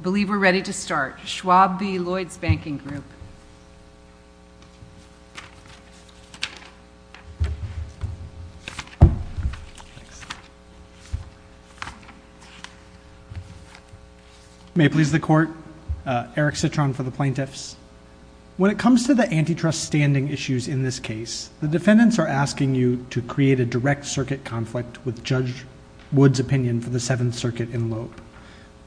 I believe we're ready to start. Schwab v. Lloyds Banking Group. May it please the Court. Eric Citron for the Plaintiffs. When it comes to the antitrust standing issues in this case, the defendants are asking you to create a direct circuit conflict with Judge Wood's opinion for the Seventh Circuit in Loeb.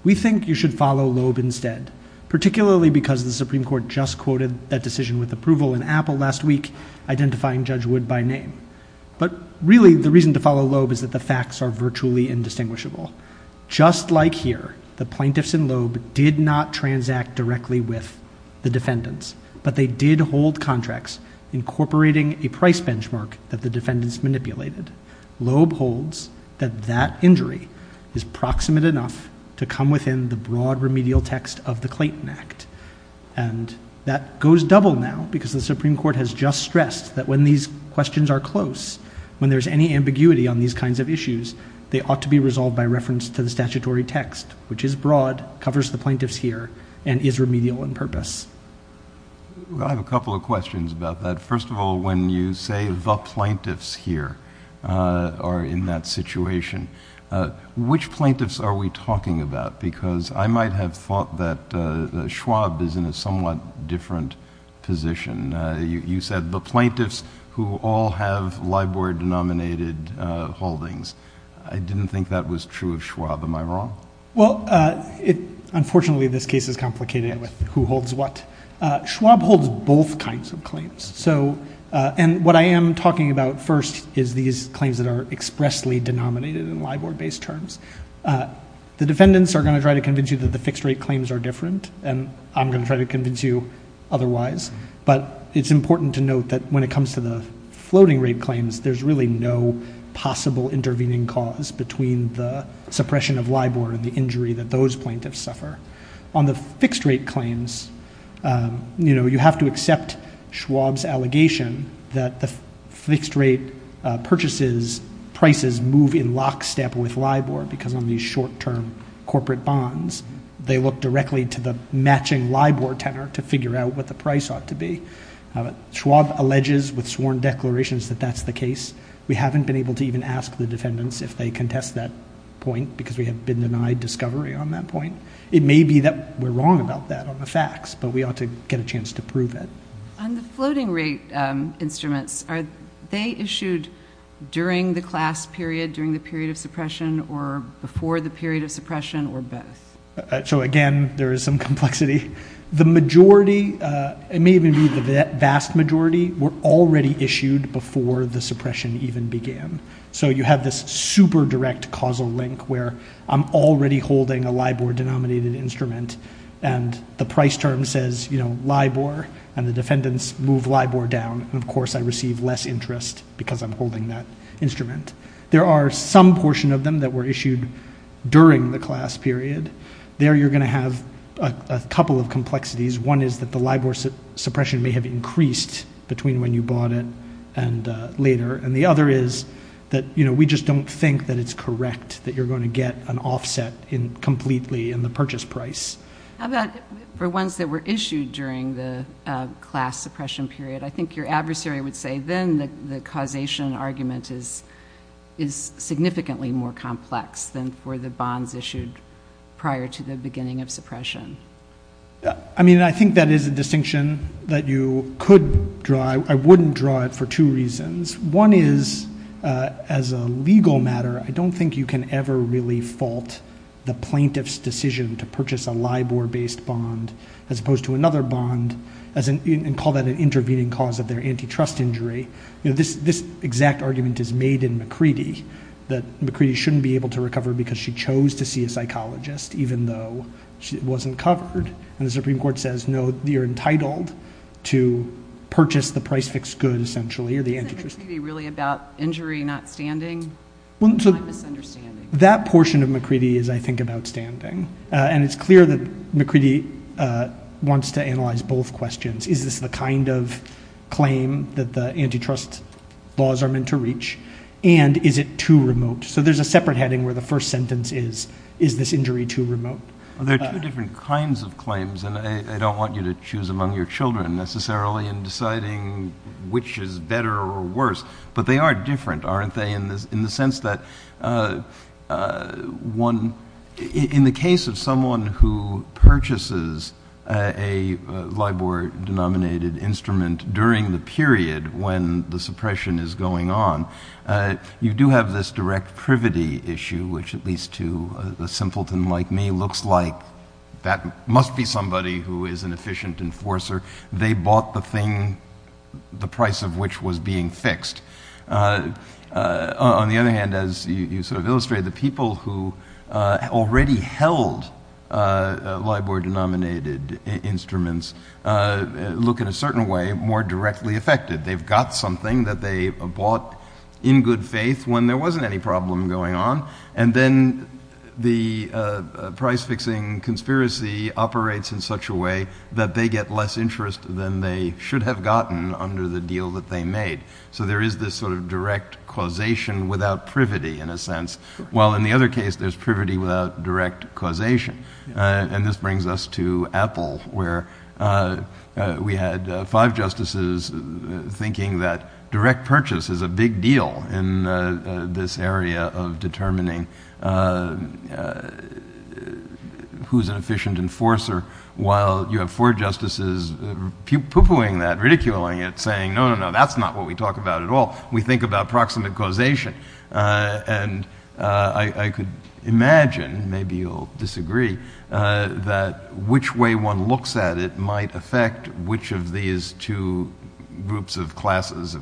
We think you should follow Loeb instead, particularly because the Supreme Court just quoted that decision with approval in Apple last week, identifying Judge Wood by name. But really, the reason to follow Loeb is that the facts are virtually indistinguishable. Just like here, the plaintiffs in Loeb did not transact directly with the defendants, but they did hold contracts incorporating a price benchmark that the defendants manipulated. Loeb holds that that injury is proximate enough to come within the broad remedial text of the Clayton Act. And that goes double now, because the Supreme Court has just stressed that when these questions are close, when there's any ambiguity on these kinds of issues, they ought to be resolved by reference to the statutory text, which is broad, covers the plaintiffs here, and is remedial in purpose. Well, I have a couple of questions about that. First of all, when you say the plaintiffs here are in that situation, which plaintiffs are we talking about? Because I might have thought that Schwab is in a somewhat different position. You said the plaintiffs who all have LIBOR-denominated holdings. I didn't think that was true of Schwab. Am I wrong? Well, unfortunately, this case is complicated with who holds what. Schwab holds both kinds of claims. And what I am talking about first is these claims that are expressly denominated in LIBOR-based terms. The defendants are going to try to convince you that the fixed-rate claims are different, and I'm going to try to convince you otherwise. But it's important to note that when it comes to the floating-rate claims, there's really no possible intervening cause between the suppression of LIBOR and the injury that those plaintiffs suffer. On the fixed-rate claims, you have to accept Schwab's allegation that the fixed-rate purchases prices move in lockstep with LIBOR because on these short-term corporate bonds, they look directly to the matching LIBOR tenor to figure out what the price ought to be. Schwab alleges with sworn declarations that that's the case. We haven't been able to even ask the defendants if they contest that point because we have been denied discovery on that point. It may be that we're wrong about that on the facts, but we ought to get a chance to prove it. On the floating-rate instruments, are they issued during the class period, during the period of suppression, or before the period of suppression, or both? So again, there is some complexity. The majority, it may even be the vast majority, were already issued before the suppression even began. So you have this super direct causal link where I'm already holding a LIBOR-denominated instrument and the price term says LIBOR, and the defendants move LIBOR down, and of course I receive less interest because I'm holding that instrument. There are some portion of them that were issued during the class period. There you're going to have a couple of complexities. One is that the LIBOR suppression may have increased between when you bought it and later, and the other is that we just don't think that it's correct that you're going to get an offset completely in the purchase price. How about for ones that were issued during the class suppression period? I think your adversary would say then the causation argument is significantly more complex than for the bonds issued prior to the beginning of suppression. I mean, I think that is a distinction that you could draw. I wouldn't draw it for two reasons. One is, as a legal matter, I don't think you can ever really fault the plaintiff's decision to purchase a LIBOR-based bond as opposed to another bond, and call that an intervening cause of their antitrust injury. This exact argument is made in McCready, that McCready shouldn't be able to recover because she chose to see a psychologist even though she wasn't covered, and the Supreme Court says no, you're entitled to purchase the price-fixed good, essentially, or the antitrust. Isn't McCready really about injury not standing? That's my misunderstanding. That portion of McCready is, I think, about standing, and it's clear that McCready wants to analyze both questions. Is this the kind of claim that the antitrust laws are meant to reach, and is it too remote? So there's a separate heading where the first sentence is, is this injury too remote? Well, there are two different kinds of claims, and I don't want you to choose among your children necessarily in deciding which is better or worse. But they are different, aren't they, in the sense that, one, in the case of someone who purchases a LIBOR-denominated instrument during the period when the suppression is going on, you do have this direct privity issue, which, at least to a simpleton like me, looks like that must be somebody who is an efficient enforcer. They bought the thing, the price of which was being fixed. On the other hand, as you sort of illustrated, the people who already held LIBOR-denominated instruments look, in a certain way, more directly affected. They've got something that they bought in good faith when there wasn't any problem going on, and then the price-fixing conspiracy operates in such a way that they get less interest than they should have gotten under the deal that they made. So there is this sort of direct causation without privity, in a sense, while in the other case, there's privity without direct causation. And this brings us to Apple, where we had five justices thinking that direct purchase is a big deal in this area of determining who's an efficient enforcer, while you have four justices pooh-poohing that, ridiculing it, saying, no, no, no, that's not what we talk about at all. We think about proximate causation. And I could imagine, maybe you'll disagree, that which way one looks at it might affect which of these two groups of classes,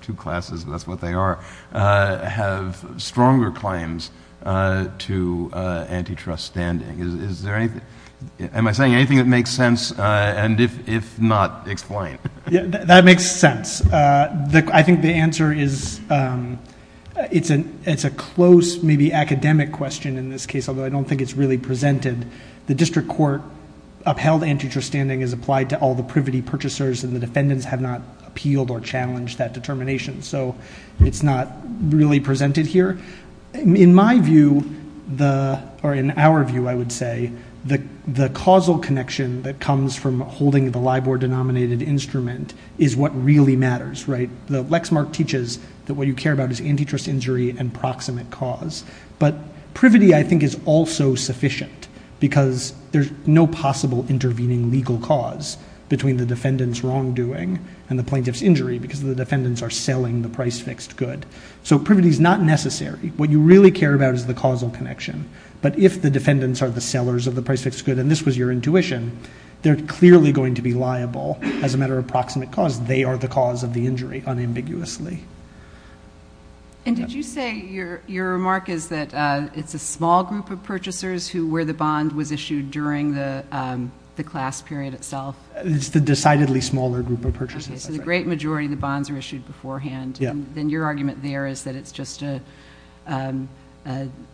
two classes, that's what they are, have stronger claims to antitrust standing. Is there anything, am I saying anything that makes sense? And if not, explain. That makes sense. I think the answer is, it's a close, maybe academic question in this case, although I don't think it's really presented. The district court upheld antitrust standing as applied to all the privity purchasers and the defendants have not appealed or challenged that determination. So it's not really presented here. In my view, or in our view, I would say, the causal connection that comes from holding the LIBOR-denominated instrument is what really matters. The Lexmark teaches that what you care about is antitrust injury and proximate cause. But privity, I think, is also sufficient, because there's no possible intervening legal cause between the defendant's wrongdoing and the plaintiff's injury, because the defendants are selling the price-fixed good. So privity is not necessary. What you really care about is the causal connection. But if the defendants are the sellers of the price-fixed good, and this was your intuition, they're clearly going to be liable as a matter of proximate cause. They are the cause of the injury, unambiguously. And did you say your remark is that it's a small group of purchasers who, where the bond was issued during the class period itself? It's the decidedly smaller group of purchasers. Okay, so the great majority of the bonds were issued beforehand, and then your argument there is that it's just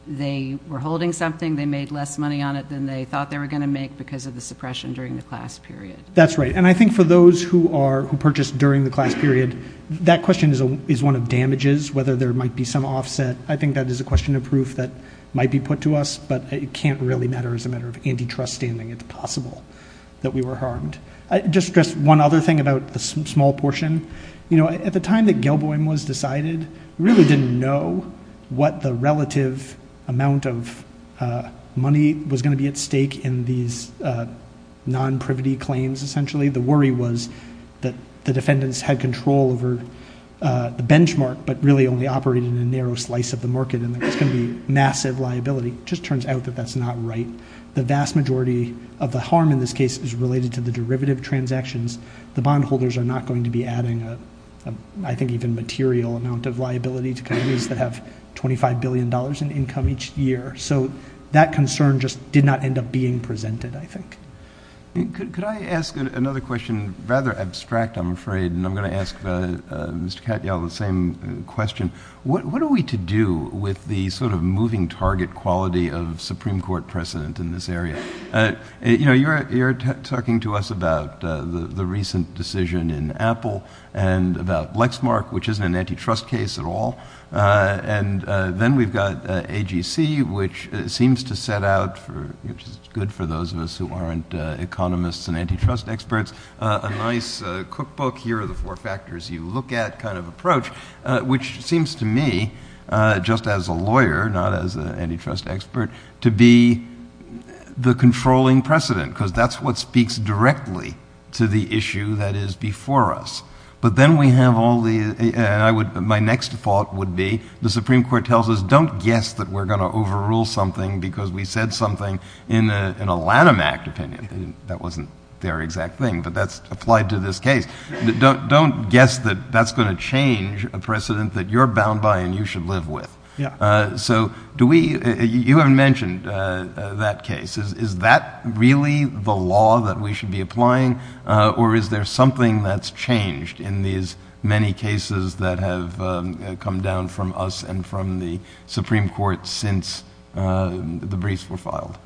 they were holding something, they made less money on it than they thought they were going to make because of the suppression during the class period. That's right. And I think for those who purchased during the class period, that question is one of damages, whether there might be some offset. I think that is a question of proof that might be put to us, but it can't really matter as a matter of antitrust standing. It's possible that we were harmed. Just one other thing about the small portion. At the time that Gilboim was decided, we really didn't know what the relative amount of money was going to be at stake in these non-privity claims, essentially. The worry was that the defendants had control over the benchmark, but really only operated in a narrow slice of the market, and there was going to be massive liability. Just turns out that that's not right. The vast majority of the harm in this case is related to the derivative transactions. The bondholders are not going to be adding, I think, even material amount of liability to companies that have $25 billion in income each year. That concern just did not end up being presented, I think. Could I ask another question, rather abstract, I'm afraid, and I'm going to ask Mr. Katyal the same question. What are we to do with the moving target quality of Supreme Court precedent in this area? You're talking to us about the recent decision in Apple and about Lexmark, which isn't an antitrust case at all. Then we've got AGC, which seems to set out, which is good for those of us who aren't economists and antitrust experts, a nice cookbook, here are the four factors you look at kind of approach, which seems to me, just as a lawyer, not as an antitrust expert, to be the controlling precedent because that's what speaks directly to the issue that is before us. Then we have all the... My next thought would be, the Supreme Court tells us, don't guess that we're going to overrule something because we said something in a Lanham Act opinion. That wasn't their exact thing, but that's applied to this case. Don't guess that that's going to change a precedent that you're bound by and you should live with. You haven't mentioned that case. Is that really the law that we should be applying, or is there something that's changed in these many cases that have come down from us and from the Supreme Court since the briefs were filed?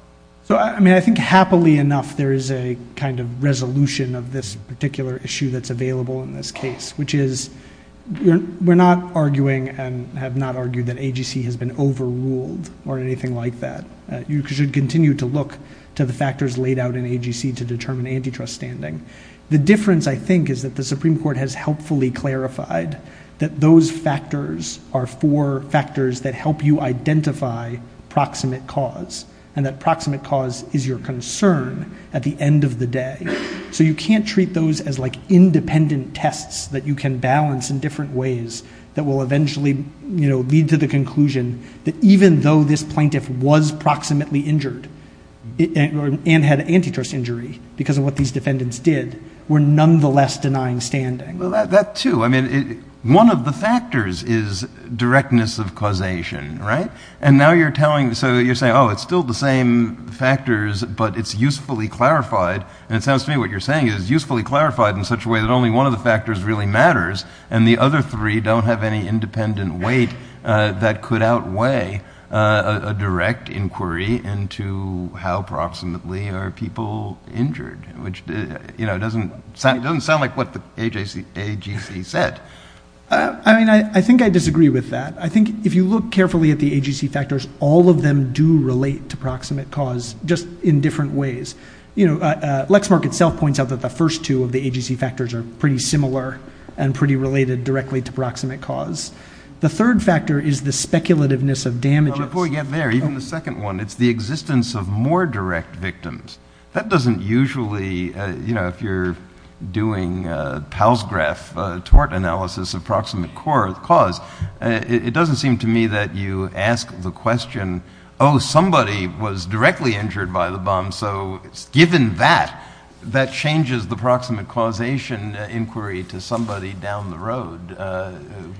I mean, I think happily enough, there is a kind of resolution of this particular issue that's available in this case, which is we're not arguing and have not argued that AGC has been overruled or anything like that. You should continue to look to the factors laid out in AGC to determine antitrust standing. The difference, I think, is that the Supreme Court has helpfully clarified that those factors are four factors that help you identify proximate cause, and that proximate cause is your concern at the end of the day. You can't treat those as independent tests that you can balance in different ways that will eventually lead to the conclusion that even though this plaintiff was proximately injured and had an antitrust injury because of what these defendants did, were nonetheless denying standing. Well, that too. I mean, one of the factors is directness of causation, right? And now you're telling, so you're saying, oh, it's still the same factors, but it's usefully clarified, and it sounds to me what you're saying is it's usefully clarified in such a way that only one of the factors really matters, and the other three don't have any proximately are people injured, which doesn't sound like what the AGC said. I mean, I think I disagree with that. I think if you look carefully at the AGC factors, all of them do relate to proximate cause just in different ways. Lexmark itself points out that the first two of the AGC factors are pretty similar and pretty related directly to proximate cause. The third factor is the speculativeness of damages. Well, before we get there, even the second one, it's the existence of more direct victims. That doesn't usually, you know, if you're doing a Palsgraf tort analysis of proximate cause, it doesn't seem to me that you ask the question, oh, somebody was directly injured by the bomb, so given that, that changes the proximate causation inquiry to somebody down the road,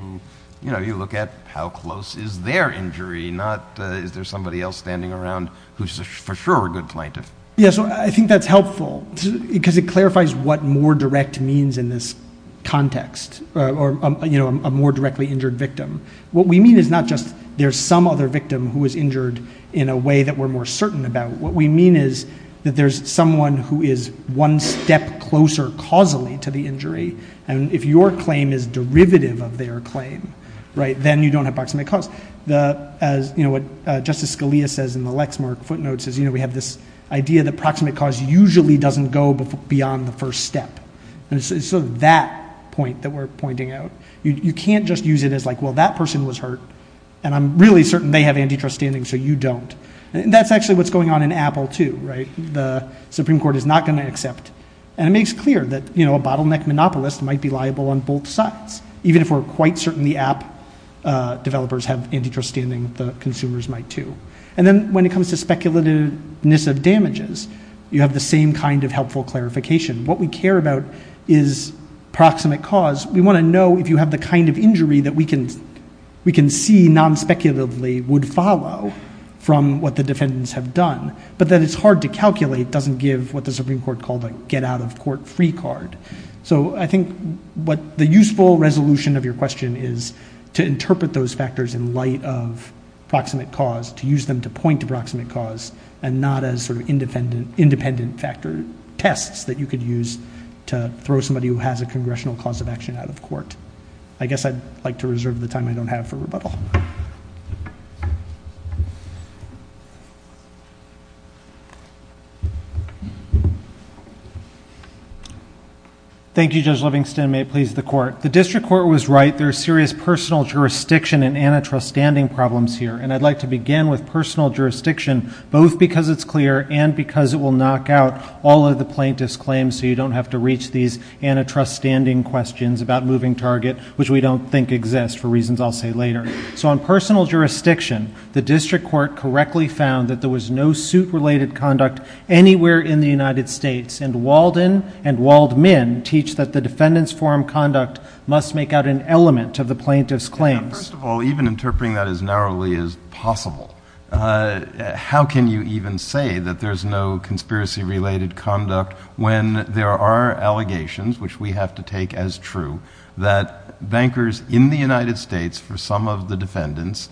who, you know, you look at how close is their injury, not is there somebody else standing around who's for sure a good plaintiff. Yeah, so I think that's helpful, because it clarifies what more direct means in this context or, you know, a more directly injured victim. What we mean is not just there's some other victim who was injured in a way that we're more certain about. What we mean is that there's someone who is one step closer causally to the injury, and if your claim is derivative of their claim, right, then you don't have proximate cause. The, as, you know, what Justice Scalia says in the Lexmark footnotes is, you know, we have this idea that proximate cause usually doesn't go beyond the first step, and so that point that we're pointing out, you can't just use it as like, well, that person was hurt, and I'm really certain they have antitrust standing, so you don't. That's actually what's going on in Apple, too, right? The Supreme Court is not going to accept, and it makes clear that, you know, a bottleneck monopolist might be liable on both sides, even if we're quite certain the app developers have antitrust standing, the consumers might, too. And then when it comes to speculativeness of damages, you have the same kind of helpful clarification. What we care about is proximate cause. We want to know if you have the kind of injury that we can see non-speculatively would follow from what the defendants have done, but that it's hard to calculate doesn't give what the Supreme Court called a get-out-of-court-free card. So I think what the useful resolution of your question is to interpret those factors in light of proximate cause, to use them to point to proximate cause, and not as sort of independent factor tests that you could use to throw somebody who has a congressional cause of action out of court. I guess I'd like to reserve the time I don't have for rebuttal. Thank you, Judge Livingston. May it please the Court. The district court was right. There are serious personal jurisdiction and antitrust standing problems here. And I'd like to begin with personal jurisdiction, both because it's clear and because it will knock out all of the plaintiff's claims so you don't have to reach these antitrust standing questions about moving target, which we don't think exist for reasons I'll say later. So on personal jurisdiction, the district court correctly found that there was no suit-related conduct anywhere in the United States. And Walden and Waldman teach that the defendant's forum conduct must make out an element of the plaintiff's claims. Okay. Now, first of all, even interpreting that as narrowly as possible, how can you even say that there's no conspiracy-related conduct when there are allegations, which we have to take as true, that bankers in the United States for some of the defendants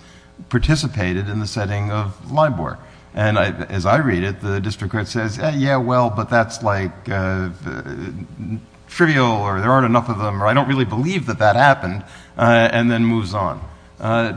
participated in the setting of LIBOR? And as I read it, the district court says, yeah, well, but that's like trivial or there aren't enough of them, or I don't really believe that that happened, and then moves on.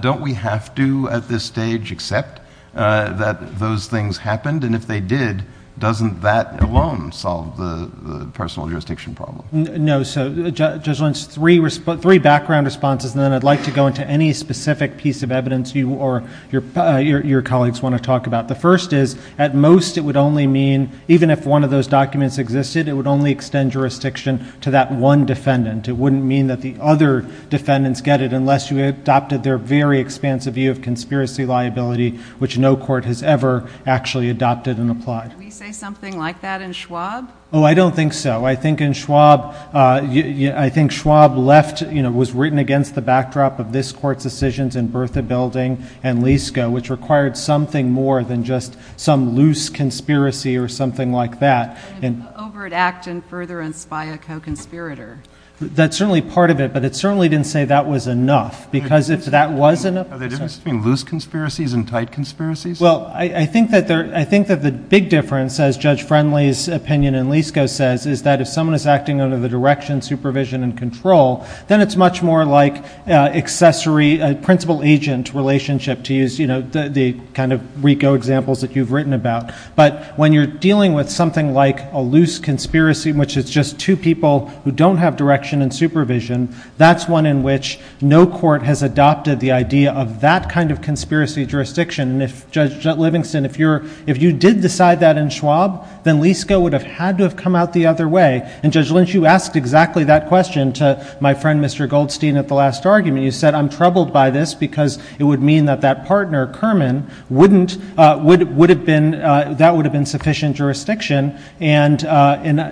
Don't we have to at this stage accept that those things happened? And if they did, doesn't that alone solve the personal jurisdiction problem? No. So, Judge Lentz, three background responses, and then I'd like to go into any specific piece of evidence you or your colleagues want to talk about. The first is, at most, it would only mean, even if one of those documents existed, it would only extend jurisdiction to that one defendant. It wouldn't mean that the other defendants get it unless you adopted their very expansive view of conspiracy liability, which no court has ever actually adopted and applied. Did we say something like that in Schwab? Oh, I don't think so. I think in Schwab, I think Schwab left, you know, was written against the backdrop of this Court's decisions in Bertha Building and Lisko, which required something more than just some loose conspiracy or something like that. An overt act to further inspire a co-conspirator. That's certainly part of it, but it certainly didn't say that was enough, because if that was enough— Are there differences between loose conspiracies and tight conspiracies? Well, I think that the big difference, as Judge Friendly's opinion in Lisko says, is that if someone is acting under the direction, supervision, and control, then it's much more like accessory, principal-agent relationship, to use, you know, the kind of RICO examples that you've written about. But when you're dealing with something like a loose conspiracy in which it's just two people who don't have direction and supervision, that's one in which no court has adopted the idea of that kind of conspiracy jurisdiction. And if, Judge Livingston, if you did decide that in Schwab, then Lisko would have had to have come out the other way. And, Judge Lynch, you asked exactly that question to my friend, Mr. Goldstein, at the last argument. You said, I'm troubled by this because it would mean that that partner, Kerman, wouldn't, would have been, that would have been sufficient jurisdiction, and,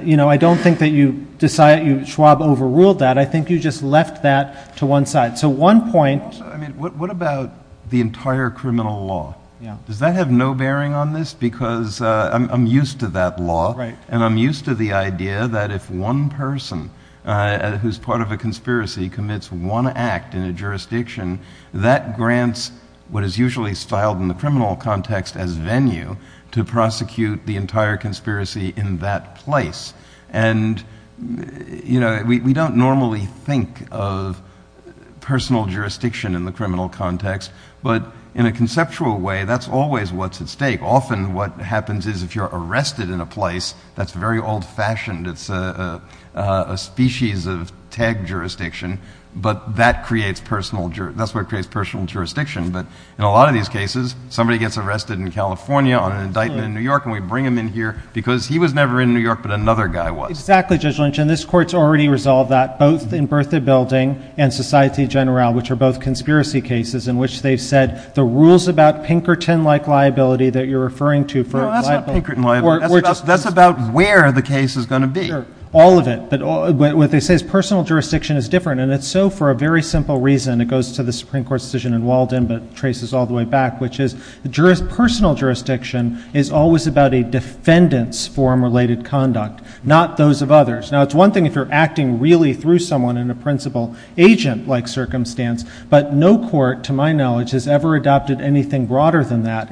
you know, I don't think that you decide, Schwab overruled that. I think you just left that to one side. So one point— Also, I mean, what about the entire criminal law? Yeah. Does that have no bearing on this? Because I'm used to that law. Right. And I'm used to the idea that if one person who's part of a conspiracy commits one act in a jurisdiction, that grants what is usually styled in the criminal context as venue to prosecute the entire conspiracy in that place. And, you know, we don't normally think of personal jurisdiction in the criminal context, but in a conceptual way, that's always what's at stake. Often what happens is if you're arrested in a place that's very old-fashioned, it's a species of tag jurisdiction, but that creates personal, that's what creates personal jurisdiction. But in a lot of these cases, somebody gets arrested in California on an indictment in New York, and we bring them in here because he was never in New York, but another guy was. Exactly, Judge Lynch, and this Court's already resolved that, both in Bertha Building and Society General, which are both conspiracy cases in which they've said the rules about No, that's not Pinkerton liable. That's about where the case is going to be. All of it. But what they say is personal jurisdiction is different, and it's so for a very simple reason. It goes to the Supreme Court's decision in Walden, but traces all the way back, which is personal jurisdiction is always about a defendant's form-related conduct, not those of others. Now, it's one thing if you're acting really through someone in a principal agent-like circumstance, but no court, to my knowledge, has ever adopted anything broader than that.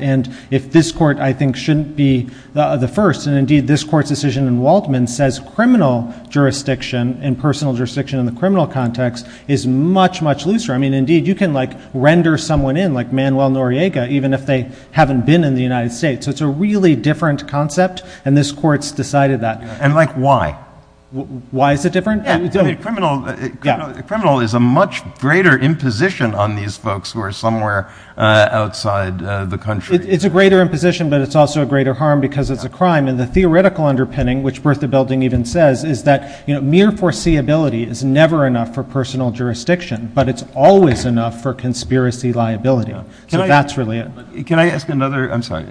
If this Court, I think, shouldn't be the first, and indeed this Court's decision in Waldman says criminal jurisdiction and personal jurisdiction in the criminal context is much, much looser. I mean, indeed, you can render someone in, like Manuel Noriega, even if they haven't been in the United States. So it's a really different concept, and this Court's decided that. And like, why? Why is it different? Yeah. I mean, criminal is a much greater imposition on these folks who are somewhere outside the country. It's a greater imposition, but it's also a greater harm because it's a crime. And the theoretical underpinning, which Bertha Belding even says, is that mere foreseeability is never enough for personal jurisdiction, but it's always enough for conspiracy liability. So that's really it. Can I ask another? I'm sorry.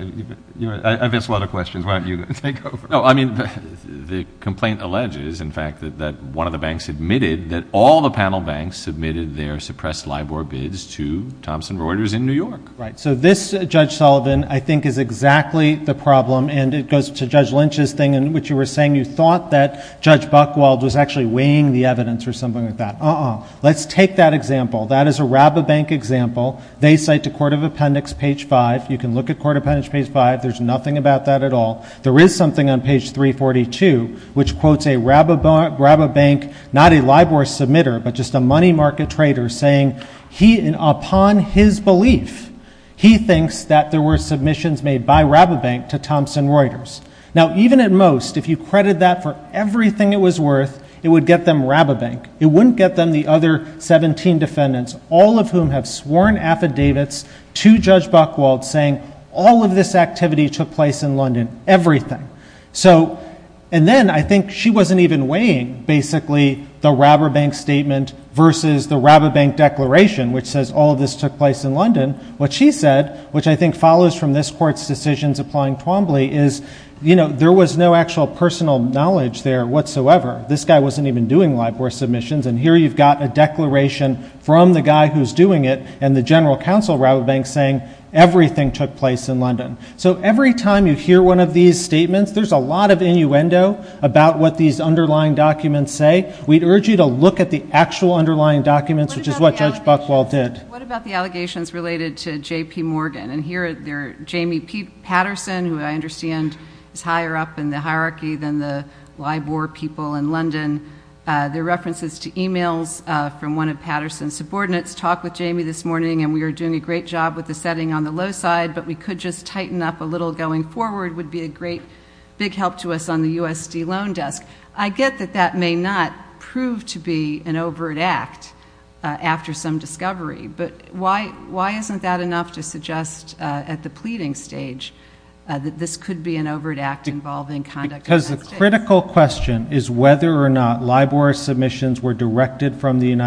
I've asked a lot of questions. Why don't you take over? No. I mean, the complaint alleges, in fact, that one of the banks admitted that all the panel banks submitted their suppressed LIBOR bids to Thomson Reuters in New York. Right. So this, Judge Sullivan, I think is exactly the problem. And it goes to Judge Lynch's thing in which you were saying you thought that Judge Buchwald was actually weighing the evidence or something like that. Uh-uh. Let's take that example. That is a Rabobank example. They cite the Court of Appendix, page 5. You can look at Court of Appendix, page 5. There's nothing about that at all. There is something on page 342 which quotes a Rabobank, not a LIBOR submitter, but just a money market trader saying he, upon his belief, he thinks that there were submissions made by Rabobank to Thomson Reuters. Now even at most, if you credit that for everything it was worth, it would get them Rabobank. It wouldn't get them the other 17 defendants, all of whom have sworn affidavits to Judge Buchwald saying all of this activity took place in London, everything. So and then I think she wasn't even weighing basically the Rabobank statement versus the Rabobank declaration which says all of this took place in London. What she said, which I think follows from this Court's decisions applying Twombly, is you know, there was no actual personal knowledge there whatsoever. This guy wasn't even doing LIBOR submissions and here you've got a declaration from the guy who's doing it and the general counsel of Rabobank saying everything took place in London. So every time you hear one of these statements, there's a lot of innuendo about what these underlying documents say. We'd urge you to look at the actual underlying documents, which is what Judge Buchwald did. What about the allegations related to J.P. Morgan? And here they're, Jamie P. Patterson, who I understand is higher up in the hierarchy than the LIBOR people in London, their references to emails from one of Patterson's subordinates talked with Jamie this morning and we are doing a great job with the setting on the low side, but we could just tighten up a little going forward would be a great big help to us on the USD loan desk. I get that that may not prove to be an overt act after some discovery, but why isn't that enough to suggest at the pleading stage that this could be an overt act involving conduct in the United States? Because the critical question is whether or not LIBOR submissions were directed from the UK.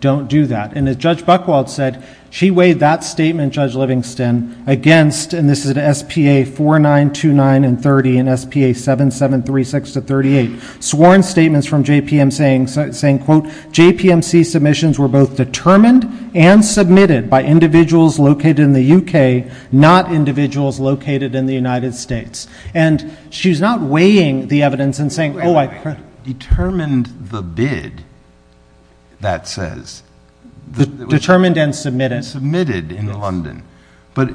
Don't do that. And as Judge Buchwald said, she weighed that statement, Judge Livingston, against, and this is at S.P.A. 4929 and 30 and S.P.A. 7736 to 38, sworn statements from J.P.M. saying, quote, J.P.M.C. submissions were both determined and submitted by individuals located in the UK, not individuals located in the United States. And she's not weighing the evidence and saying, oh, I. Determined the bid, that says. Determined and submitted. Submitted in London. But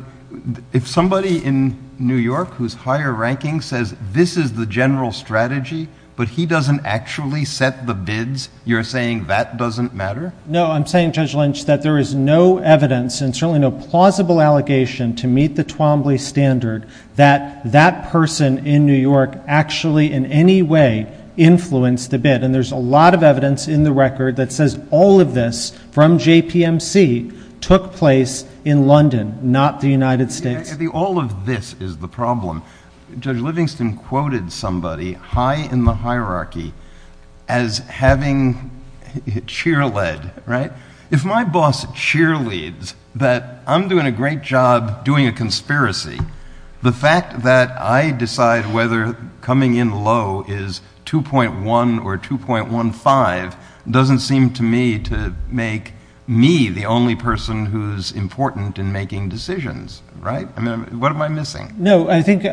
if somebody in New York whose higher ranking says this is the general strategy, but he doesn't actually set the bids, you're saying that doesn't matter? No, I'm saying, Judge Lynch, that there is no evidence and certainly no plausible allegation to meet the Twombly standard that that person in New York actually in any way influenced the bid. And there's a lot of evidence in the record that says all of this from J.P.M.C. took place in London, not the United States. All of this is the problem. Judge Livingston quoted somebody high in the hierarchy as having cheerlead, right? If my boss cheerleads that I'm doing a great job doing a conspiracy, the fact that I decide whether coming in low is 2.1 or 2.15 doesn't seem to me to make me the only person who's important in making decisions, right? I mean, what am I missing? No, I think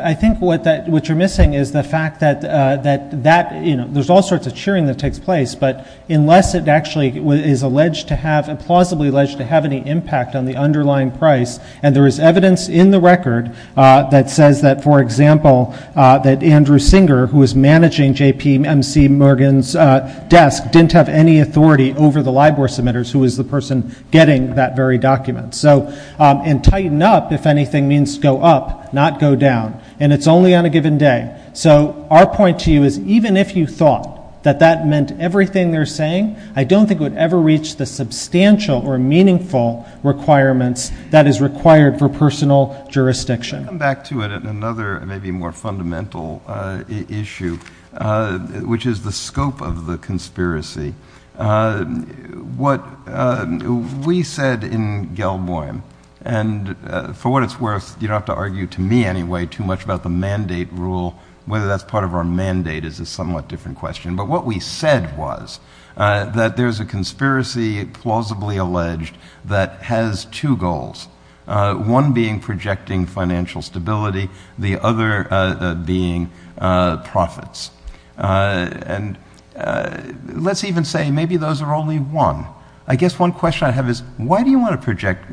what you're missing is the fact that that, you know, there's all sorts of to have and plausibly alleged to have any impact on the underlying price. And there is evidence in the record that says that, for example, that Andrew Singer, who was managing J.P.M.C. Morgan's desk, didn't have any authority over the LIBOR submitters who was the person getting that very document. So and tighten up, if anything, means go up, not go down. And it's only on a given day. So our point to you is even if you thought that that meant everything they're saying, I don't think it would ever reach the substantial or meaningful requirements that is required for personal jurisdiction. I want to come back to it in another maybe more fundamental issue, which is the scope of the conspiracy. What we said in Gelboim, and for what it's worth, you don't have to argue to me anyway too much about the mandate rule, whether that's part of our mandate is a somewhat different question. But what we said was that there's a conspiracy, plausibly alleged, that has two goals, one being projecting financial stability, the other being profits. And let's even say maybe those are only one. I guess one question I have is, why do you want to project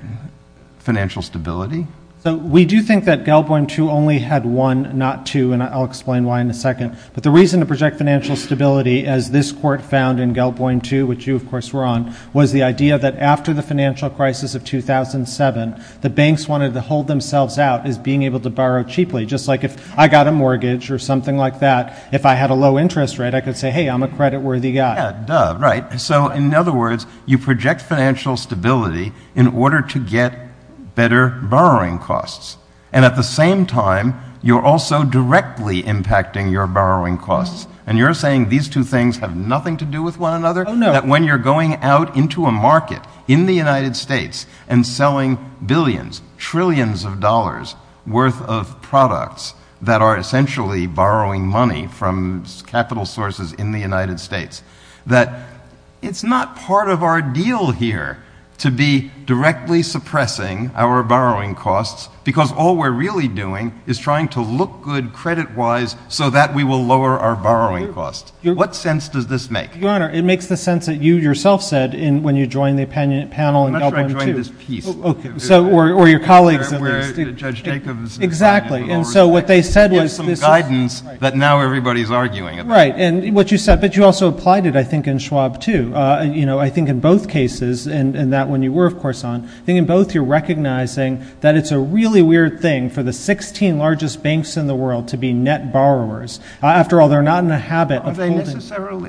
financial stability? So we do think that Gelboim 2 only had one, not two, and I'll explain why in a second. But the reason to project financial stability, as this court found in Gelboim 2, which you of course were on, was the idea that after the financial crisis of 2007, the banks wanted to hold themselves out as being able to borrow cheaply, just like if I got a mortgage or something like that, if I had a low interest rate, I could say, hey, I'm a creditworthy guy. Yeah, duh, right. So in other words, you project financial stability in order to get better borrowing costs. And at the same time, you're also directly impacting your borrowing costs. And you're saying these two things have nothing to do with one another, that when you're going out into a market in the United States and selling billions, trillions of dollars worth of products that are essentially borrowing money from capital sources in the United States, that it's not part of our deal here to be directly suppressing our borrowing costs, because all we're really doing is trying to look good credit-wise so that we will lower our borrowing costs. What sense does this make? Your Honor, it makes the sense that you yourself said when you joined the panel in Gelboim 2. That's where I joined this piece. Okay. So, or your colleagues. Where Judge Jacobs. Exactly. And so what they said was this is. With some guidance that now everybody's arguing about. Right. And what you said. But you also applied it, I think, in Schwab 2. I think in both cases, and that one you were, of course, on, I think in both you're recognizing that it's a really weird thing for the 16 largest banks in the world to be net borrowers. After all, they're not in the habit of holding.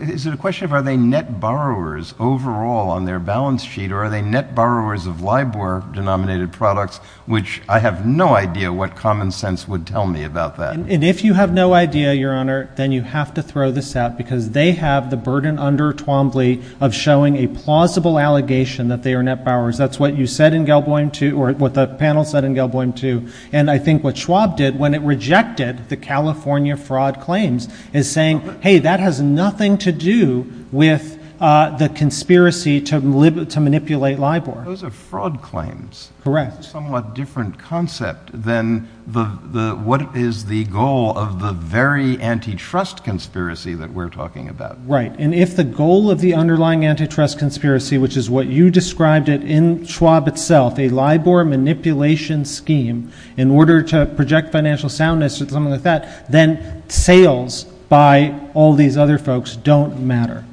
Is it a question of are they net borrowers overall on their balance sheet, or are they net borrowers of LIBOR-denominated products, which I have no idea what common sense would tell me about that. And if you have no idea, Your Honor, then you have to throw this out because they have the burden under Twombly of showing a plausible allegation that they are net borrowers. That's what you said in Gelboim 2, or what the panel said in Gelboim 2. And I think what Schwab did when it rejected the California fraud claims is saying, hey, that has nothing to do with the conspiracy to manipulate LIBOR. Those are fraud claims. Correct. That's a somewhat different concept than what is the goal of the very antitrust conspiracy that we're talking about. Right. And if the goal of the underlying antitrust conspiracy, which is what you described it in Schwab itself, a LIBOR manipulation scheme in order to project financial soundness or something like that, then sales by all these other folks don't matter.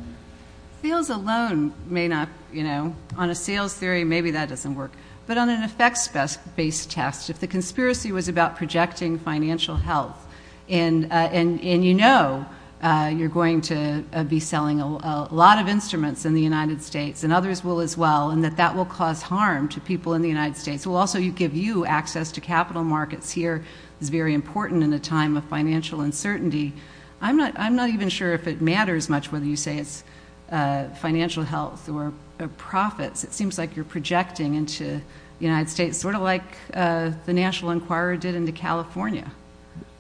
Sales alone may not, you know, on a sales theory, maybe that doesn't work. But on an effects-based test, if the conspiracy was about projecting financial health, and you know you're going to be selling a lot of instruments in the United States, and others will as well, and that that will cause harm to people in the United States, it will also give you access to capital markets here. It's very important in a time of financial uncertainty. I'm not even sure if it matters much whether you say it's financial health or profits. It seems like you're projecting into the United States, sort of like the National Enquirer did into California.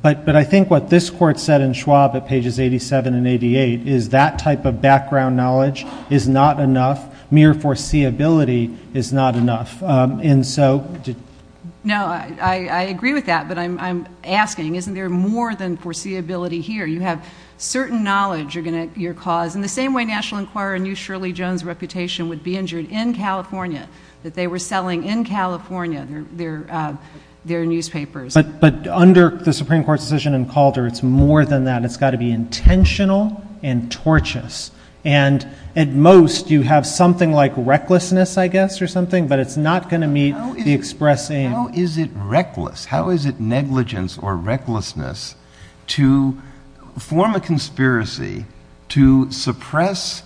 But I think what this court said in Schwab at pages 87 and 88 is that type of background knowledge is not enough. Mere foreseeability is not enough. And so... No, I agree with that, but I'm asking, isn't there more than foreseeability here? You have certain knowledge you're going to, your cause, and the same way National Enquirer knew Shirley Jones' reputation would be injured in California, that they were selling in California their newspapers. But under the Supreme Court's decision in Calder, it's more than that. It's got to be intentional and tortuous. And at most, you have something like recklessness, I guess, or something, but it's not going to meet the express aim. How is it reckless? How is it negligence or recklessness to form a conspiracy to suppress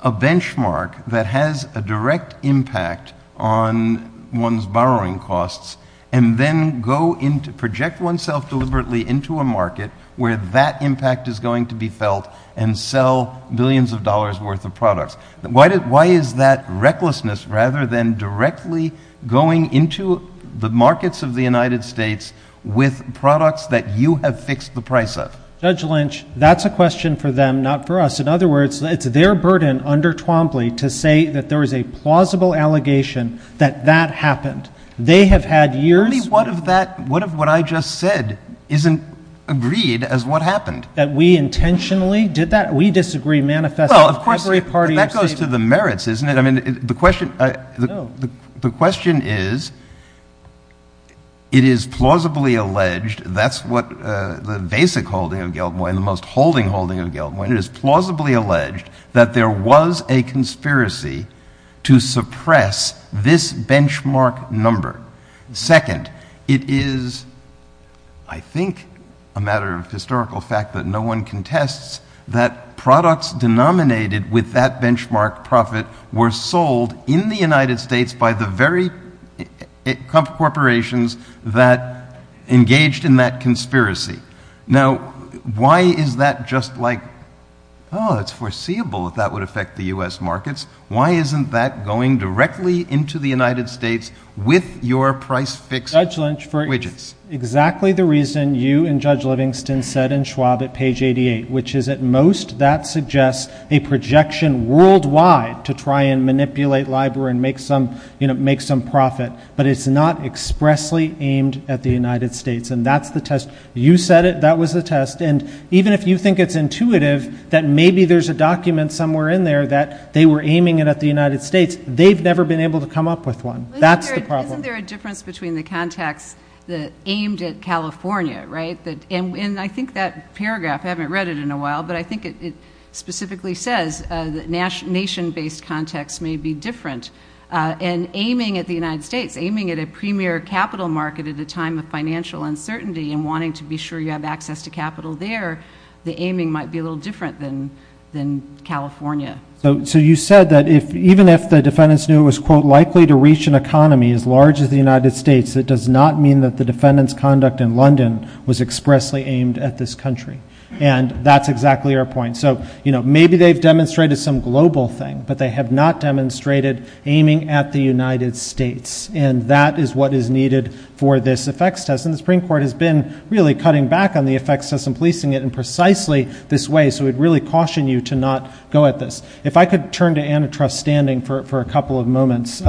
a benchmark that has a direct impact on one's borrowing costs and then go into, project oneself deliberately into a market where that impact is going to be felt and sell billions of dollars' worth of products? Why is that recklessness rather than directly going into the markets of the United States with products that you have fixed the price of? Judge Lynch, that's a question for them, not for us. In other words, it's their burden under Twombly to say that there is a plausible allegation that that happened. They have had years... I mean, what if that, what if what I just said isn't agreed as what happened? That we intentionally did that? We disagree manifestly. Well, of course, that goes to the merits, isn't it? I mean, the question, the question is, it is plausibly alleged, that's what the basic holding of Galtmoyer and the most holding holding of Galtmoyer, it is plausibly alleged that there was a conspiracy to suppress this benchmark number. Second, it is, I think, a matter of historical fact that no one contests that products denominated with that benchmark profit were sold in the United States by the very corporations that engaged in that conspiracy. Now, why is that just like, oh, it's foreseeable that that would affect the U.S. markets. Why isn't that going directly into the United States with your price fix widgets? Judge Lynch, for exactly the reason you and Judge Livingston said in Schwab at page 88, which is at most that suggests a projection worldwide to try and manipulate LIBOR and make some, you know, make some profit, but it's not expressly aimed at the United States. And that's the test. You said it. That was the test. And even if you think it's intuitive that maybe there's a document somewhere in there that they were aiming it at the United States, they've never been able to come up with one. That's the problem. Isn't there a difference between the context aimed at California, right? And I think that paragraph, I haven't read it in a while, but I think it specifically says that nation-based context may be different. And aiming at the United States, aiming at a premier capital market at a time of financial uncertainty and wanting to be sure you have access to capital there, the aiming might be a little different than California. So you said that even if the defendants knew it was, quote, likely to reach an economy as large as the United States, it does not mean that the defendants' conduct in London was expressly aimed at this country. And that's exactly our point. So, you know, maybe they've demonstrated some global thing, but they have not demonstrated aiming at the United States. And that is what is needed for this effects test. And the Supreme Court has been really cutting back on the effects test and policing it in If I could turn to Antitrust Standing for a couple of moments.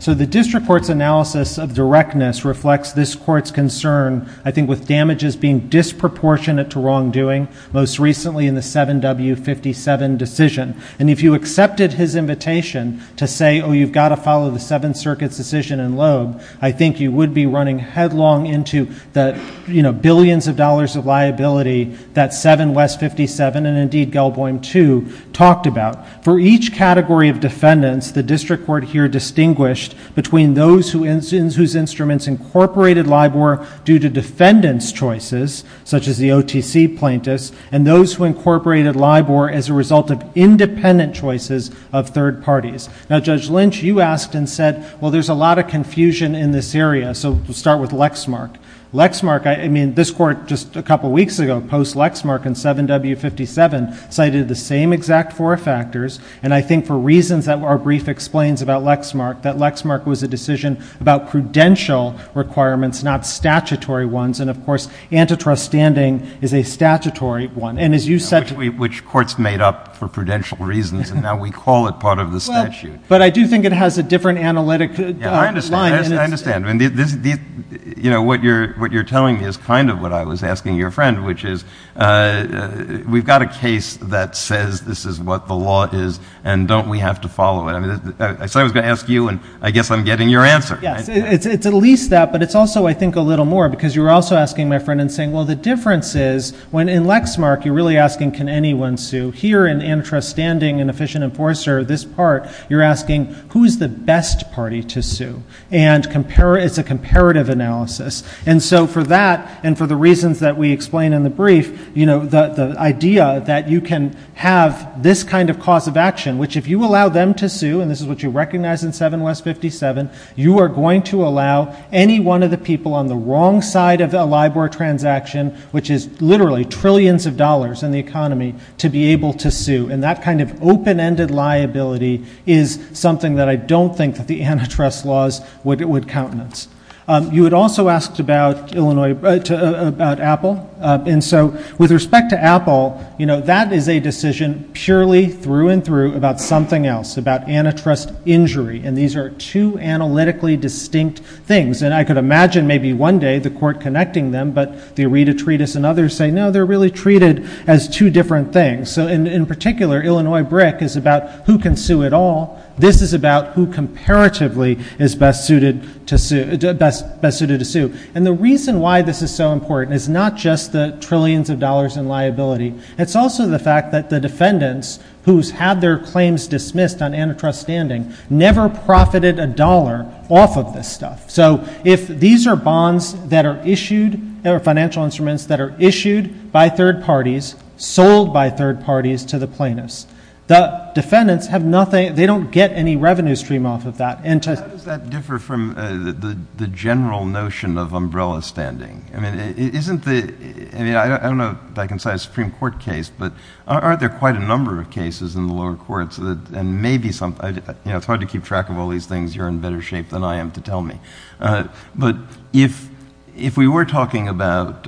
So the district court's analysis of directness reflects this court's concern, I think, with damages being disproportionate to wrongdoing, most recently in the 7W57 decision. And if you accepted his invitation to say, oh, you've got to follow the Seventh Circuit's decision in Loeb, I think you would be running headlong into the, you know, billions of dollars of liability that 7W57 and, indeed, Gelboim 2 talked about. For each category of defendants, the district court here distinguished between those whose instruments incorporated LIBOR due to defendants' choices, such as the OTC plaintiffs, and those who incorporated LIBOR as a result of independent choices of third parties. Now, Judge Lynch, you asked and said, well, there's a lot of confusion in this area. So we'll start with Lexmark. Lexmark, I mean, this court just a couple weeks ago, post-Lexmark and 7W57, cited the same exact four factors. And I think for reasons that our brief explains about Lexmark, that Lexmark was a decision about prudential requirements, not statutory ones. And of course, Antitrust Standing is a statutory one. And as you said— Which court's made up for prudential reasons, and now we call it part of the statute. But I do think it has a different analytic line. I understand. I understand. I mean, this—you know, what you're telling me is kind of what I was asking your friend, which is, we've got a case that says this is what the law is, and don't we have to follow it? I mean, I said I was going to ask you, and I guess I'm getting your answer. Yes. It's at least that, but it's also, I think, a little more, because you were also asking my friend and saying, well, the difference is, when in Lexmark, you're really asking, can anyone sue? Here in Antitrust Standing and Efficient Enforcer, this part, you're asking, who's the best party to sue? And it's a comparative analysis. And so for that, and for the reasons that we explain in the brief, you know, the idea that you can have this kind of cause of action, which if you allow them to sue—and this is what you recognize in 7 West 57—you are going to allow any one of the people on the wrong side of a LIBOR transaction, which is literally trillions of dollars in the economy, to be able to sue. And that kind of open-ended liability is something that I don't think that the antitrust laws would countenance. You had also asked about Apple. And so with respect to Apple, you know, that is a decision purely through and through about something else, about antitrust injury. And these are two analytically distinct things. And I could imagine maybe one day the court connecting them, but the Areta Treatise and others say, no, they're really treated as two different things. So in particular, Illinois BRIC is about who can sue it all. This is about who comparatively is best suited to sue. And the reason why this is so important is not just the trillions of dollars in liability. It's also the fact that the defendants, who's had their claims dismissed on antitrust standing, never profited a dollar off of this stuff. So if these are bonds that are issued, or financial instruments that are issued by third parties, sold by third parties to the plaintiffs, the defendants have nothing—they don't get any revenue stream off of that. How does that differ from the general notion of umbrella standing? I mean, isn't the—I mean, I don't know if I can cite a Supreme Court case, but aren't there quite a number of cases in the lower courts that—and maybe some—you know, it's hard to keep track of all these things. You're in better shape than I am to tell me. But if we were talking about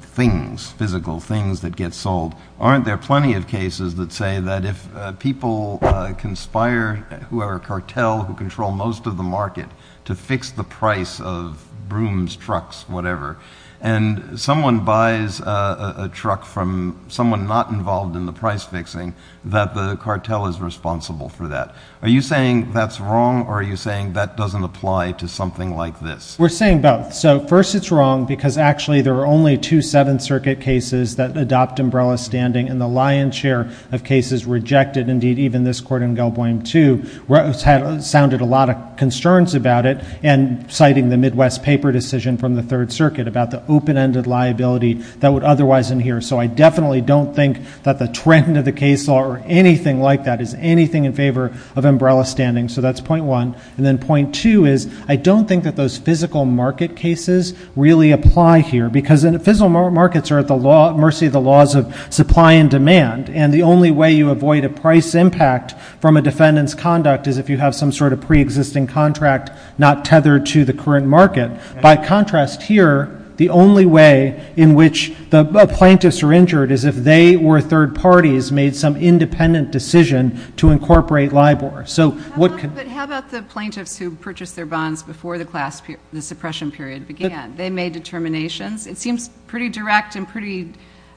things, physical things that get sold, aren't there plenty of cases that say that if people conspire, who are a cartel who control most of the market, to fix the price of brooms, trucks, whatever, and someone buys a truck from someone not involved in the price fixing, that the cartel is responsible for that. Are you saying that's wrong, or are you saying that doesn't apply to something like this? We're saying both. So first it's wrong because actually there are only two Seventh Circuit cases that adopt umbrella standing, and the lion's share of cases rejected—indeed, even this court in Galboim too—sounded a lot of concerns about it, and citing the Midwest Paper decision from the Third Circuit about the open-ended liability that would otherwise adhere. So I definitely don't think that the trend of the case law or anything like that is anything in favor of umbrella standing. So that's point one. And then point two is I don't think that those physical market cases really apply here, because physical markets are at the mercy of the laws of supply and demand, and the only way you avoid a price impact from a defendant's conduct is if you have some sort of preexisting contract not tethered to the current market. By contrast here, the only way in which the plaintiffs are injured is if they or third parties made some independent decision to incorporate LIBOR. So what can— But how about the plaintiffs who purchased their bonds before the suppression period began? They made determinations? It seems pretty direct and pretty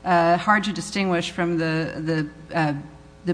hard to distinguish from the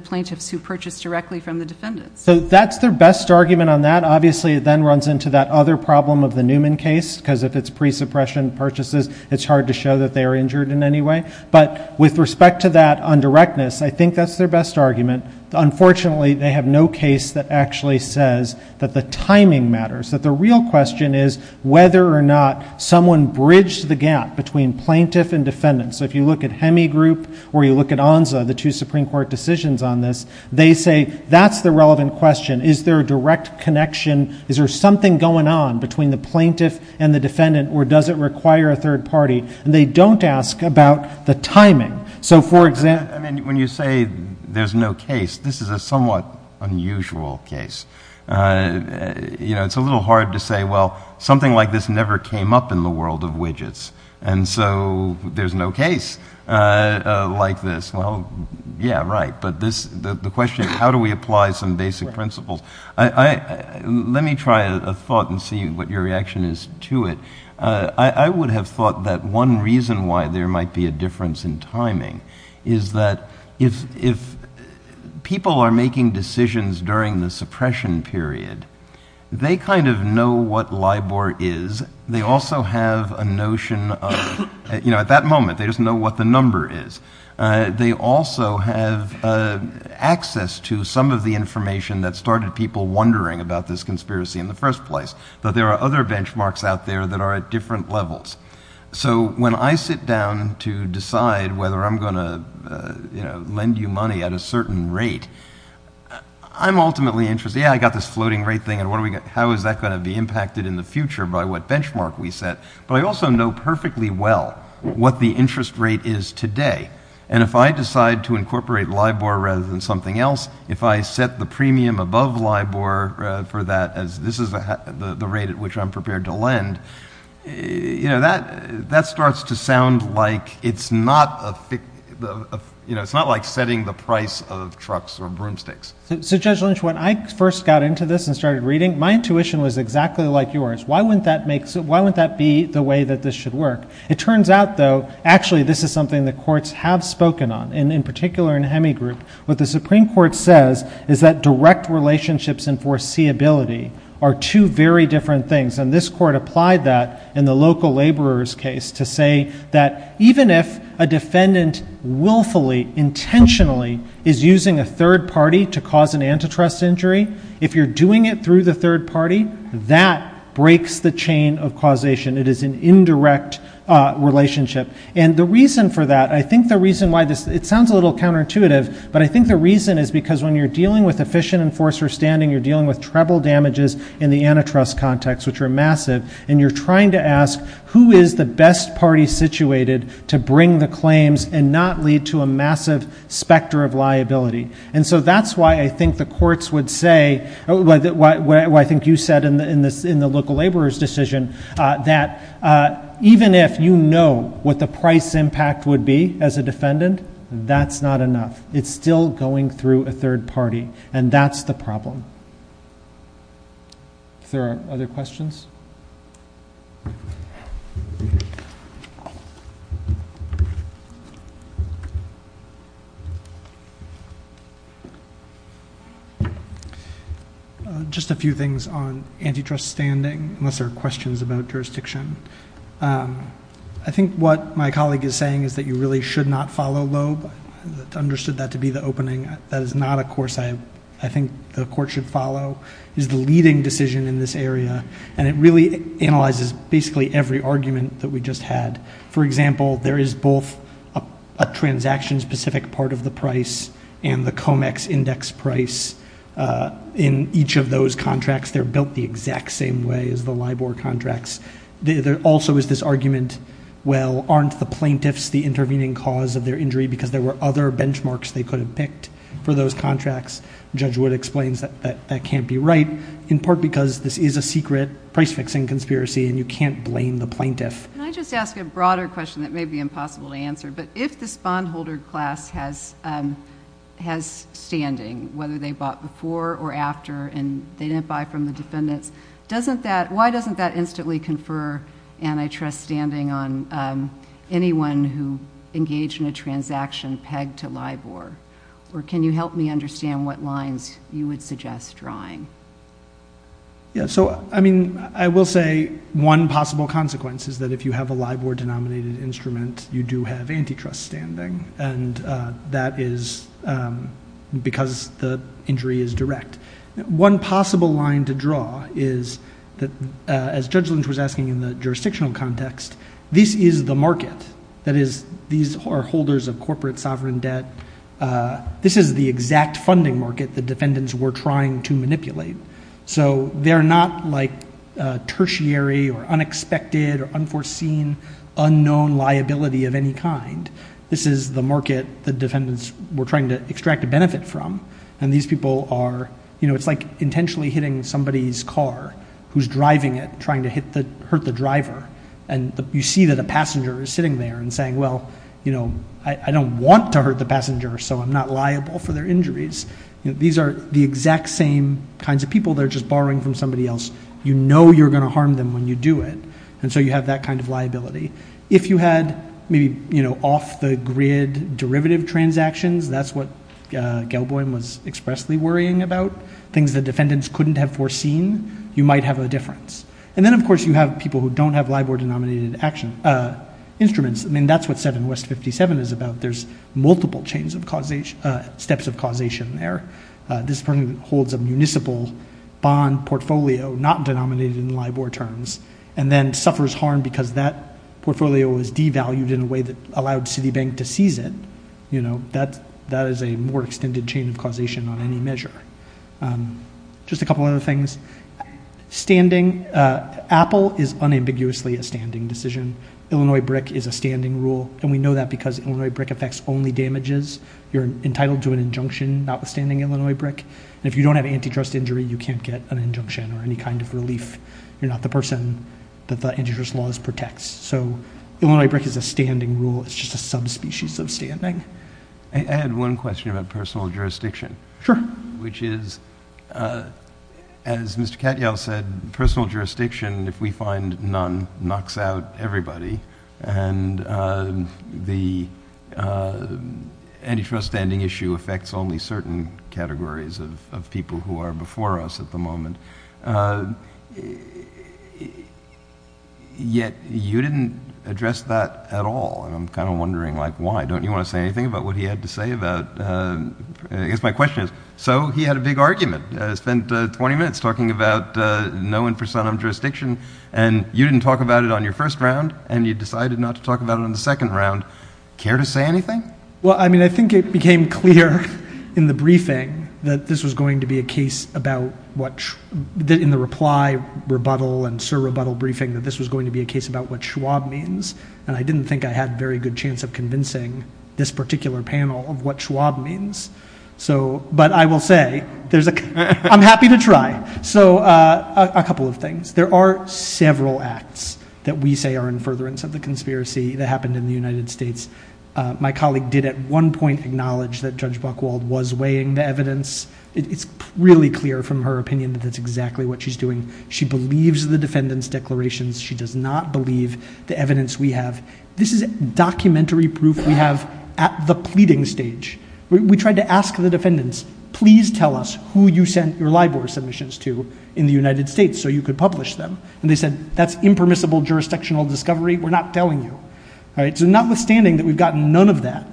plaintiffs who purchased directly from the defendants. So that's their best argument on that. Obviously, it then runs into that other problem of the Newman case, because if it's pre-suppression purchases, it's hard to show that they are injured in any way. But with respect to that on directness, I think that's their best argument. Unfortunately, they have no case that actually says that the timing matters, that the real question is whether or not someone bridged the gap between plaintiff and defendant. So if you look at Hemi Group or you look at ONSA, the two Supreme Court decisions on this, they say that's the relevant question. Is there a direct connection? Is there something going on between the plaintiff and the defendant, or does it require a third party? And they don't ask about the timing. So for example— I mean, when you say there's no case, this is a somewhat unusual case. You know, it's a little hard to say, well, something like this never came up in the world of widgets, and so there's no case like this. Well, yeah, right. But the question is, how do we apply some basic principles? Let me try a thought and see what your reaction is to it. I would have thought that one reason why there might be a difference in timing is that if people are making decisions during the suppression period, they kind of know what LIBOR is. They also have a notion of—you know, at that moment, they just know what the number is. They also have access to some of the information that started people wondering about this conspiracy in the first place. But there are other benchmarks out there that are at different levels. So when I sit down to decide whether I'm going to lend you money at a certain rate, I'm ultimately interested—yeah, I got this floating rate thing, and how is that going to be impacted in the future by what benchmark we set? But I also know perfectly well what the interest rate is today. And if I decide to incorporate LIBOR rather than something else, if I set the premium above LIBOR for that as this is the rate at which I'm prepared to lend, you know, that starts to sound like it's not a—you know, it's not like setting the price of trucks or broomsticks. So Judge Lynch, when I first got into this and started reading, my intuition was exactly like yours. Why wouldn't that make—why wouldn't that be the way that this should work? It turns out, though, actually this is something the courts have spoken on, and in particular in relationships and foreseeability are two very different things. And this court applied that in the local laborer's case to say that even if a defendant willfully, intentionally is using a third party to cause an antitrust injury, if you're doing it through the third party, that breaks the chain of causation. It is an indirect relationship. And the reason for that—I think the reason why this—it sounds a little counterintuitive, but I think the reason is because when you're dealing with efficient enforcer standing, you're dealing with treble damages in the antitrust context, which are massive, and you're trying to ask who is the best party situated to bring the claims and not lead to a massive specter of liability. And so that's why I think the courts would say—what I think you said in the local laborer's decision, that even if you know what the price impact would be as a defendant, that's not enough. It's still going through a third party, and that's the problem. If there are other questions? Just a few things on antitrust standing, unless there are questions about jurisdiction. I think what my colleague is saying is that you really should not follow Loeb. I understood that to be the opening. That is not a course I think the court should follow. It is the leading decision in this area, and it really analyzes basically every argument that we just had. For example, there is both a transaction-specific part of the price and the COMEX index price. In each of those contracts, they're built the exact same way as the LIBOR contracts. There also is this argument, well, aren't the plaintiffs the intervening cause of their injury because there were other benchmarks they could have picked for those contracts? Judge Wood explains that that can't be right, in part because this is a secret price-fixing conspiracy, and you can't blame the plaintiff. Can I just ask a broader question that may be impossible to answer? But if this bondholder class has standing, whether they bought before or after and they instantly confer antitrust standing on anyone who engaged in a transaction pegged to LIBOR, or can you help me understand what lines you would suggest drawing? I will say one possible consequence is that if you have a LIBOR-denominated instrument, you do have antitrust standing, and that is because the injury is direct. One possible line to draw is that, as Judge Lynch was asking in the jurisdictional context, this is the market. That is, these are holders of corporate sovereign debt. This is the exact funding market the defendants were trying to manipulate. So they're not like tertiary or unexpected or unforeseen, unknown liability of any kind. This is the market the defendants were trying to extract a benefit from, and these people are, you know, it's like intentionally hitting somebody's car who's driving it, trying to hurt the driver, and you see that a passenger is sitting there and saying, well, you know, I don't want to hurt the passenger, so I'm not liable for their injuries. These are the exact same kinds of people. They're just borrowing from somebody else. You know you're going to harm them when you do it, and so you have that kind of liability. If you had maybe, you know, off-the-grid derivative transactions, that's what Gelboim was expressly worrying about, things the defendants couldn't have foreseen, you might have a difference. And then, of course, you have people who don't have LIBOR-denominated instruments. I mean, that's what 7 West 57 is about. There's multiple steps of causation there. This person holds a municipal bond portfolio, not denominated in LIBOR terms, and then suffers harm because that portfolio was devalued in a way that allowed Citibank to seize it, you know, that is a more extended chain of causation on any measure. Just a couple other things. Standing, Apple is unambiguously a standing decision. Illinois BRIC is a standing rule, and we know that because Illinois BRIC affects only damages. You're entitled to an injunction notwithstanding Illinois BRIC, and if you don't have antitrust injury, you can't get an injunction or any kind of relief. You're not the person that the antitrust laws protects. So Illinois BRIC is a standing rule. It's just a subspecies of standing. I had one question about personal jurisdiction. Sure. Which is, as Mr. Katyal said, personal jurisdiction, if we find none, knocks out everybody. And the antitrust standing issue affects only certain categories of people who are before us at the moment. And yet you didn't address that at all. And I'm kind of wondering, like, why? Don't you want to say anything about what he had to say about, I guess my question is, so he had a big argument, spent 20 minutes talking about no infrasound on jurisdiction, and you didn't talk about it on your first round, and you decided not to talk about it on the second round. Care to say anything? Well, I mean, I think it became clear in the briefing that this was going to be a case about what, in the reply, rebuttal, and sir rebuttal briefing, that this was going to be a case about what Schwab means. And I didn't think I had very good chance of convincing this particular panel of what Schwab means. So, but I will say, there's a, I'm happy to try. So a couple of things. There are several acts that we say are in furtherance of the conspiracy that happened in the United States. My colleague did at one point acknowledge that Judge Buchwald was weighing the evidence. It's really clear from her opinion that that's exactly what she's doing. She believes the defendant's declarations. She does not believe the evidence we have. This is documentary proof we have at the pleading stage. We tried to ask the defendants, please tell us who you sent your LIBOR submissions to in the United States so you could publish them. And they said, that's impermissible jurisdictional discovery. We're not telling you. All right. So notwithstanding that we've gotten none of that,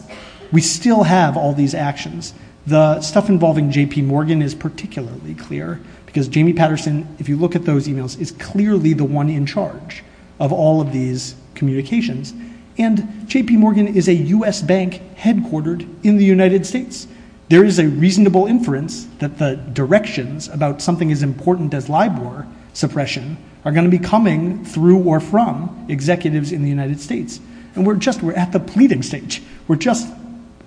we still have all these actions. The stuff involving JP Morgan is particularly clear because Jamie Patterson, if you look at those emails, is clearly the one in charge of all of these communications. And JP Morgan is a US bank headquartered in the United States. There is a reasonable inference that the directions about something as important as LIBOR suppression are going to be coming through or from executives in the United States. And we're just, we're at the pleading stage. We're just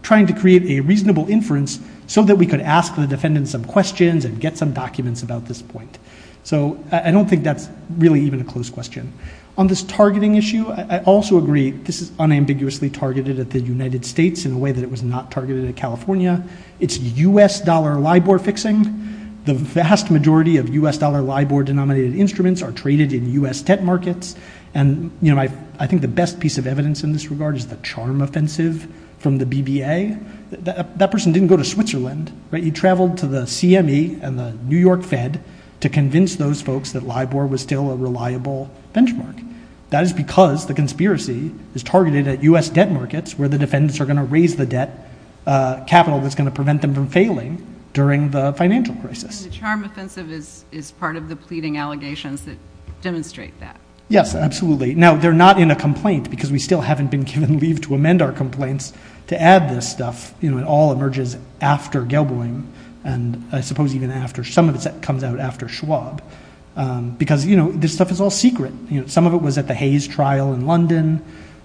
trying to create a reasonable inference so that we could ask the defendants some questions and get some documents about this point. So I don't think that's really even a close question. On this targeting issue, I also agree this is unambiguously targeted at the United States in a way that it was not targeted at California. It's US dollar LIBOR fixing. The vast majority of US dollar LIBOR denominated instruments are traded in US tech markets. And I think the best piece of evidence in this regard is the charm offensive from the BBA. That person didn't go to Switzerland. He traveled to the CME and the New York Fed to convince those folks that LIBOR was still a reliable benchmark. That is because the conspiracy is targeted at US debt markets where the defendants are going to raise the debt capital that's going to prevent them from failing during the financial crisis. Charm offensive is part of the pleading allegations that demonstrate that. Yes, absolutely. Now, they're not in a complaint because we still haven't been given leave to amend our complaints to add this stuff. It all emerges after Gelboim and I suppose even after some of it comes out after Schwab. Because this stuff is all secret. Some of it was at the Hays trial in London.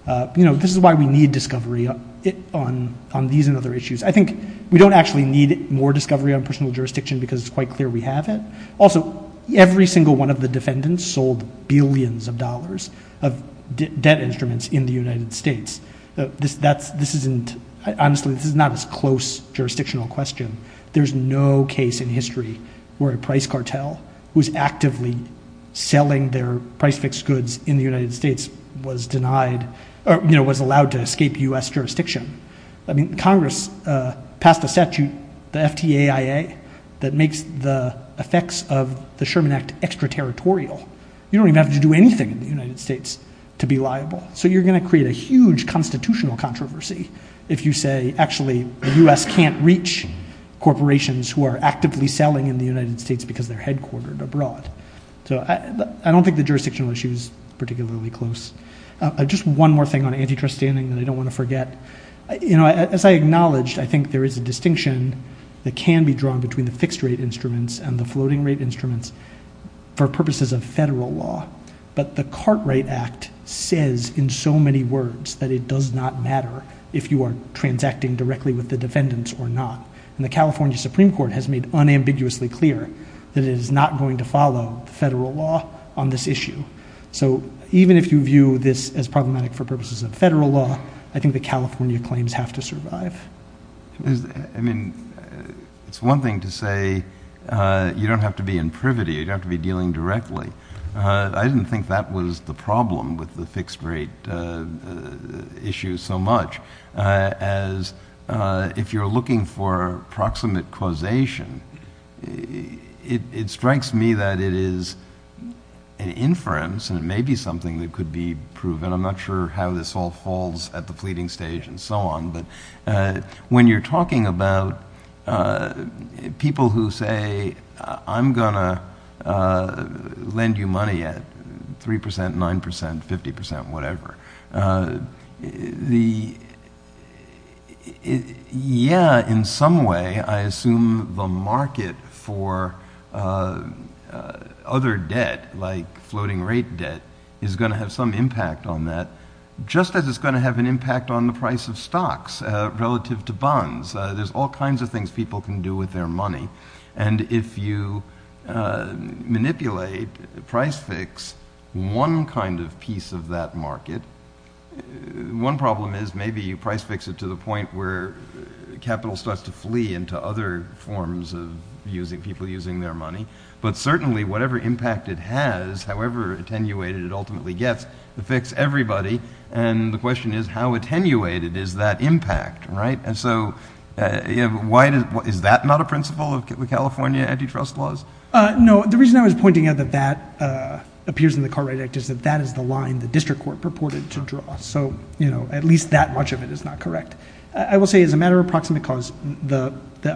This is why we need discovery on these and other issues. I think we don't actually need more discovery on personal jurisdiction because it's quite clear we have it. Also, every single one of the defendants sold billions of dollars of debt instruments in the United States. Honestly, this is not as close jurisdictional question. There's no case in history where a price cartel was actively selling their price fixed goods in the United States was allowed to escape US jurisdiction. Congress passed a statute, the FTAIA, that makes the effects of the Sherman Act extraterritorial. You don't even have to do anything in the United States to be liable. So you're going to create a huge constitutional controversy if you say, actually, the US can't reach corporations who are actively selling in the United States because they're headquartered abroad. So I don't think the jurisdictional issue is particularly close. Just one more thing on antitrust standing that I don't want to forget. As I acknowledged, I think there is a distinction that can be drawn between the fixed rate instruments and the floating rate instruments for purposes of federal law, but the Cartwright Act says in so many words that it does not matter if you are transacting directly with the defendants or not. The California Supreme Court has made unambiguously clear that it is not going to follow federal law on this issue. So even if you view this as problematic for purposes of federal law, I think the California claims have to survive. I mean, it's one thing to say you don't have to be in privity. You don't have to be dealing directly. I didn't think that was the problem with the fixed rate issue so much as if you're looking for proximate causation, it strikes me that it is an inference and it may be something that could be proven. I'm not sure how this all falls at the fleeting stage and so on, but when you're talking about people who say, I'm going to lend you money at 3%, 9%, 50%, whatever. Yeah, in some way, I assume the market for other debt like floating rate debt is going to have some impact on that, just as it's going to have an impact on the price of stocks relative to bonds. There's all kinds of things people can do with their money. And if you manipulate price fix, one kind of piece of that market, one problem is maybe you price fix it to the point where capital starts to flee into other forms of people using their money. But certainly, whatever impact it has, however attenuated it ultimately gets, it affects everybody. And the question is, how attenuated is that impact, right? So is that not a principle of California antitrust laws? No. The reason I was pointing out that that appears in the Cartwright Act is that that is the line the district court purported to draw. So at least that much of it is not correct. I will say, as a matter of approximate cause, the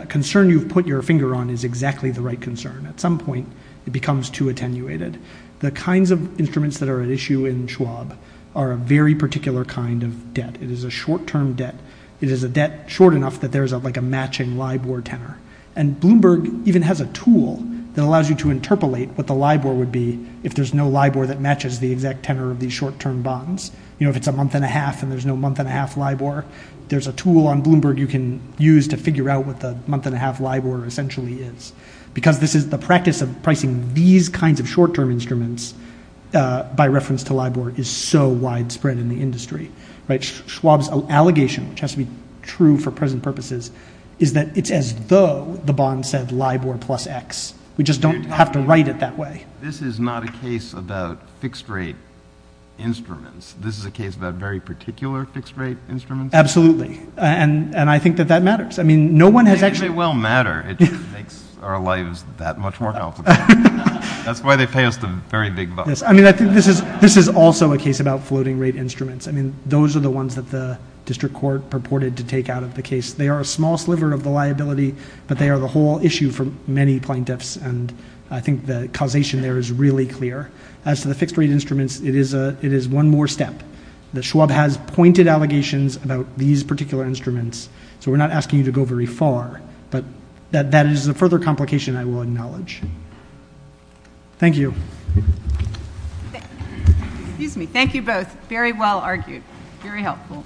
concern you've put your finger on is exactly the right concern. At some point, it becomes too attenuated. The kinds of instruments that are at issue in Schwab are a very particular kind of debt. It is a short-term debt. It is a debt short enough that there is like a matching LIBOR tenor. And Bloomberg even has a tool that allows you to interpolate what the LIBOR would be if there's no LIBOR that matches the exact tenor of these short-term bonds. You know, if it's a month and a half and there's no month and a half LIBOR, there's a tool on Bloomberg you can use to figure out what the month and a half LIBOR essentially is. Because this is the practice of pricing these kinds of short-term instruments by reference to LIBOR is so widespread in the industry, right? Schwab's allegation, which has to be true for present purposes, is that it's as though the bond said LIBOR plus X. We just don't have to write it that way. This is not a case about fixed-rate instruments. This is a case about very particular fixed-rate instruments? Absolutely. And I think that that matters. I mean, no one has actually— It may well matter. It just makes our lives that much more helpful. That's why they pay us the very big bucks. I mean, I think this is also a case about floating-rate instruments. Those are the ones that the district court purported to take out of the case. They are a small sliver of the liability, but they are the whole issue for many plaintiffs. And I think the causation there is really clear. As to the fixed-rate instruments, it is one more step. The Schwab has pointed allegations about these particular instruments. So we're not asking you to go very far. But that is a further complication I will acknowledge. Thank you. Excuse me. Thank you both. Very well argued. Very helpful.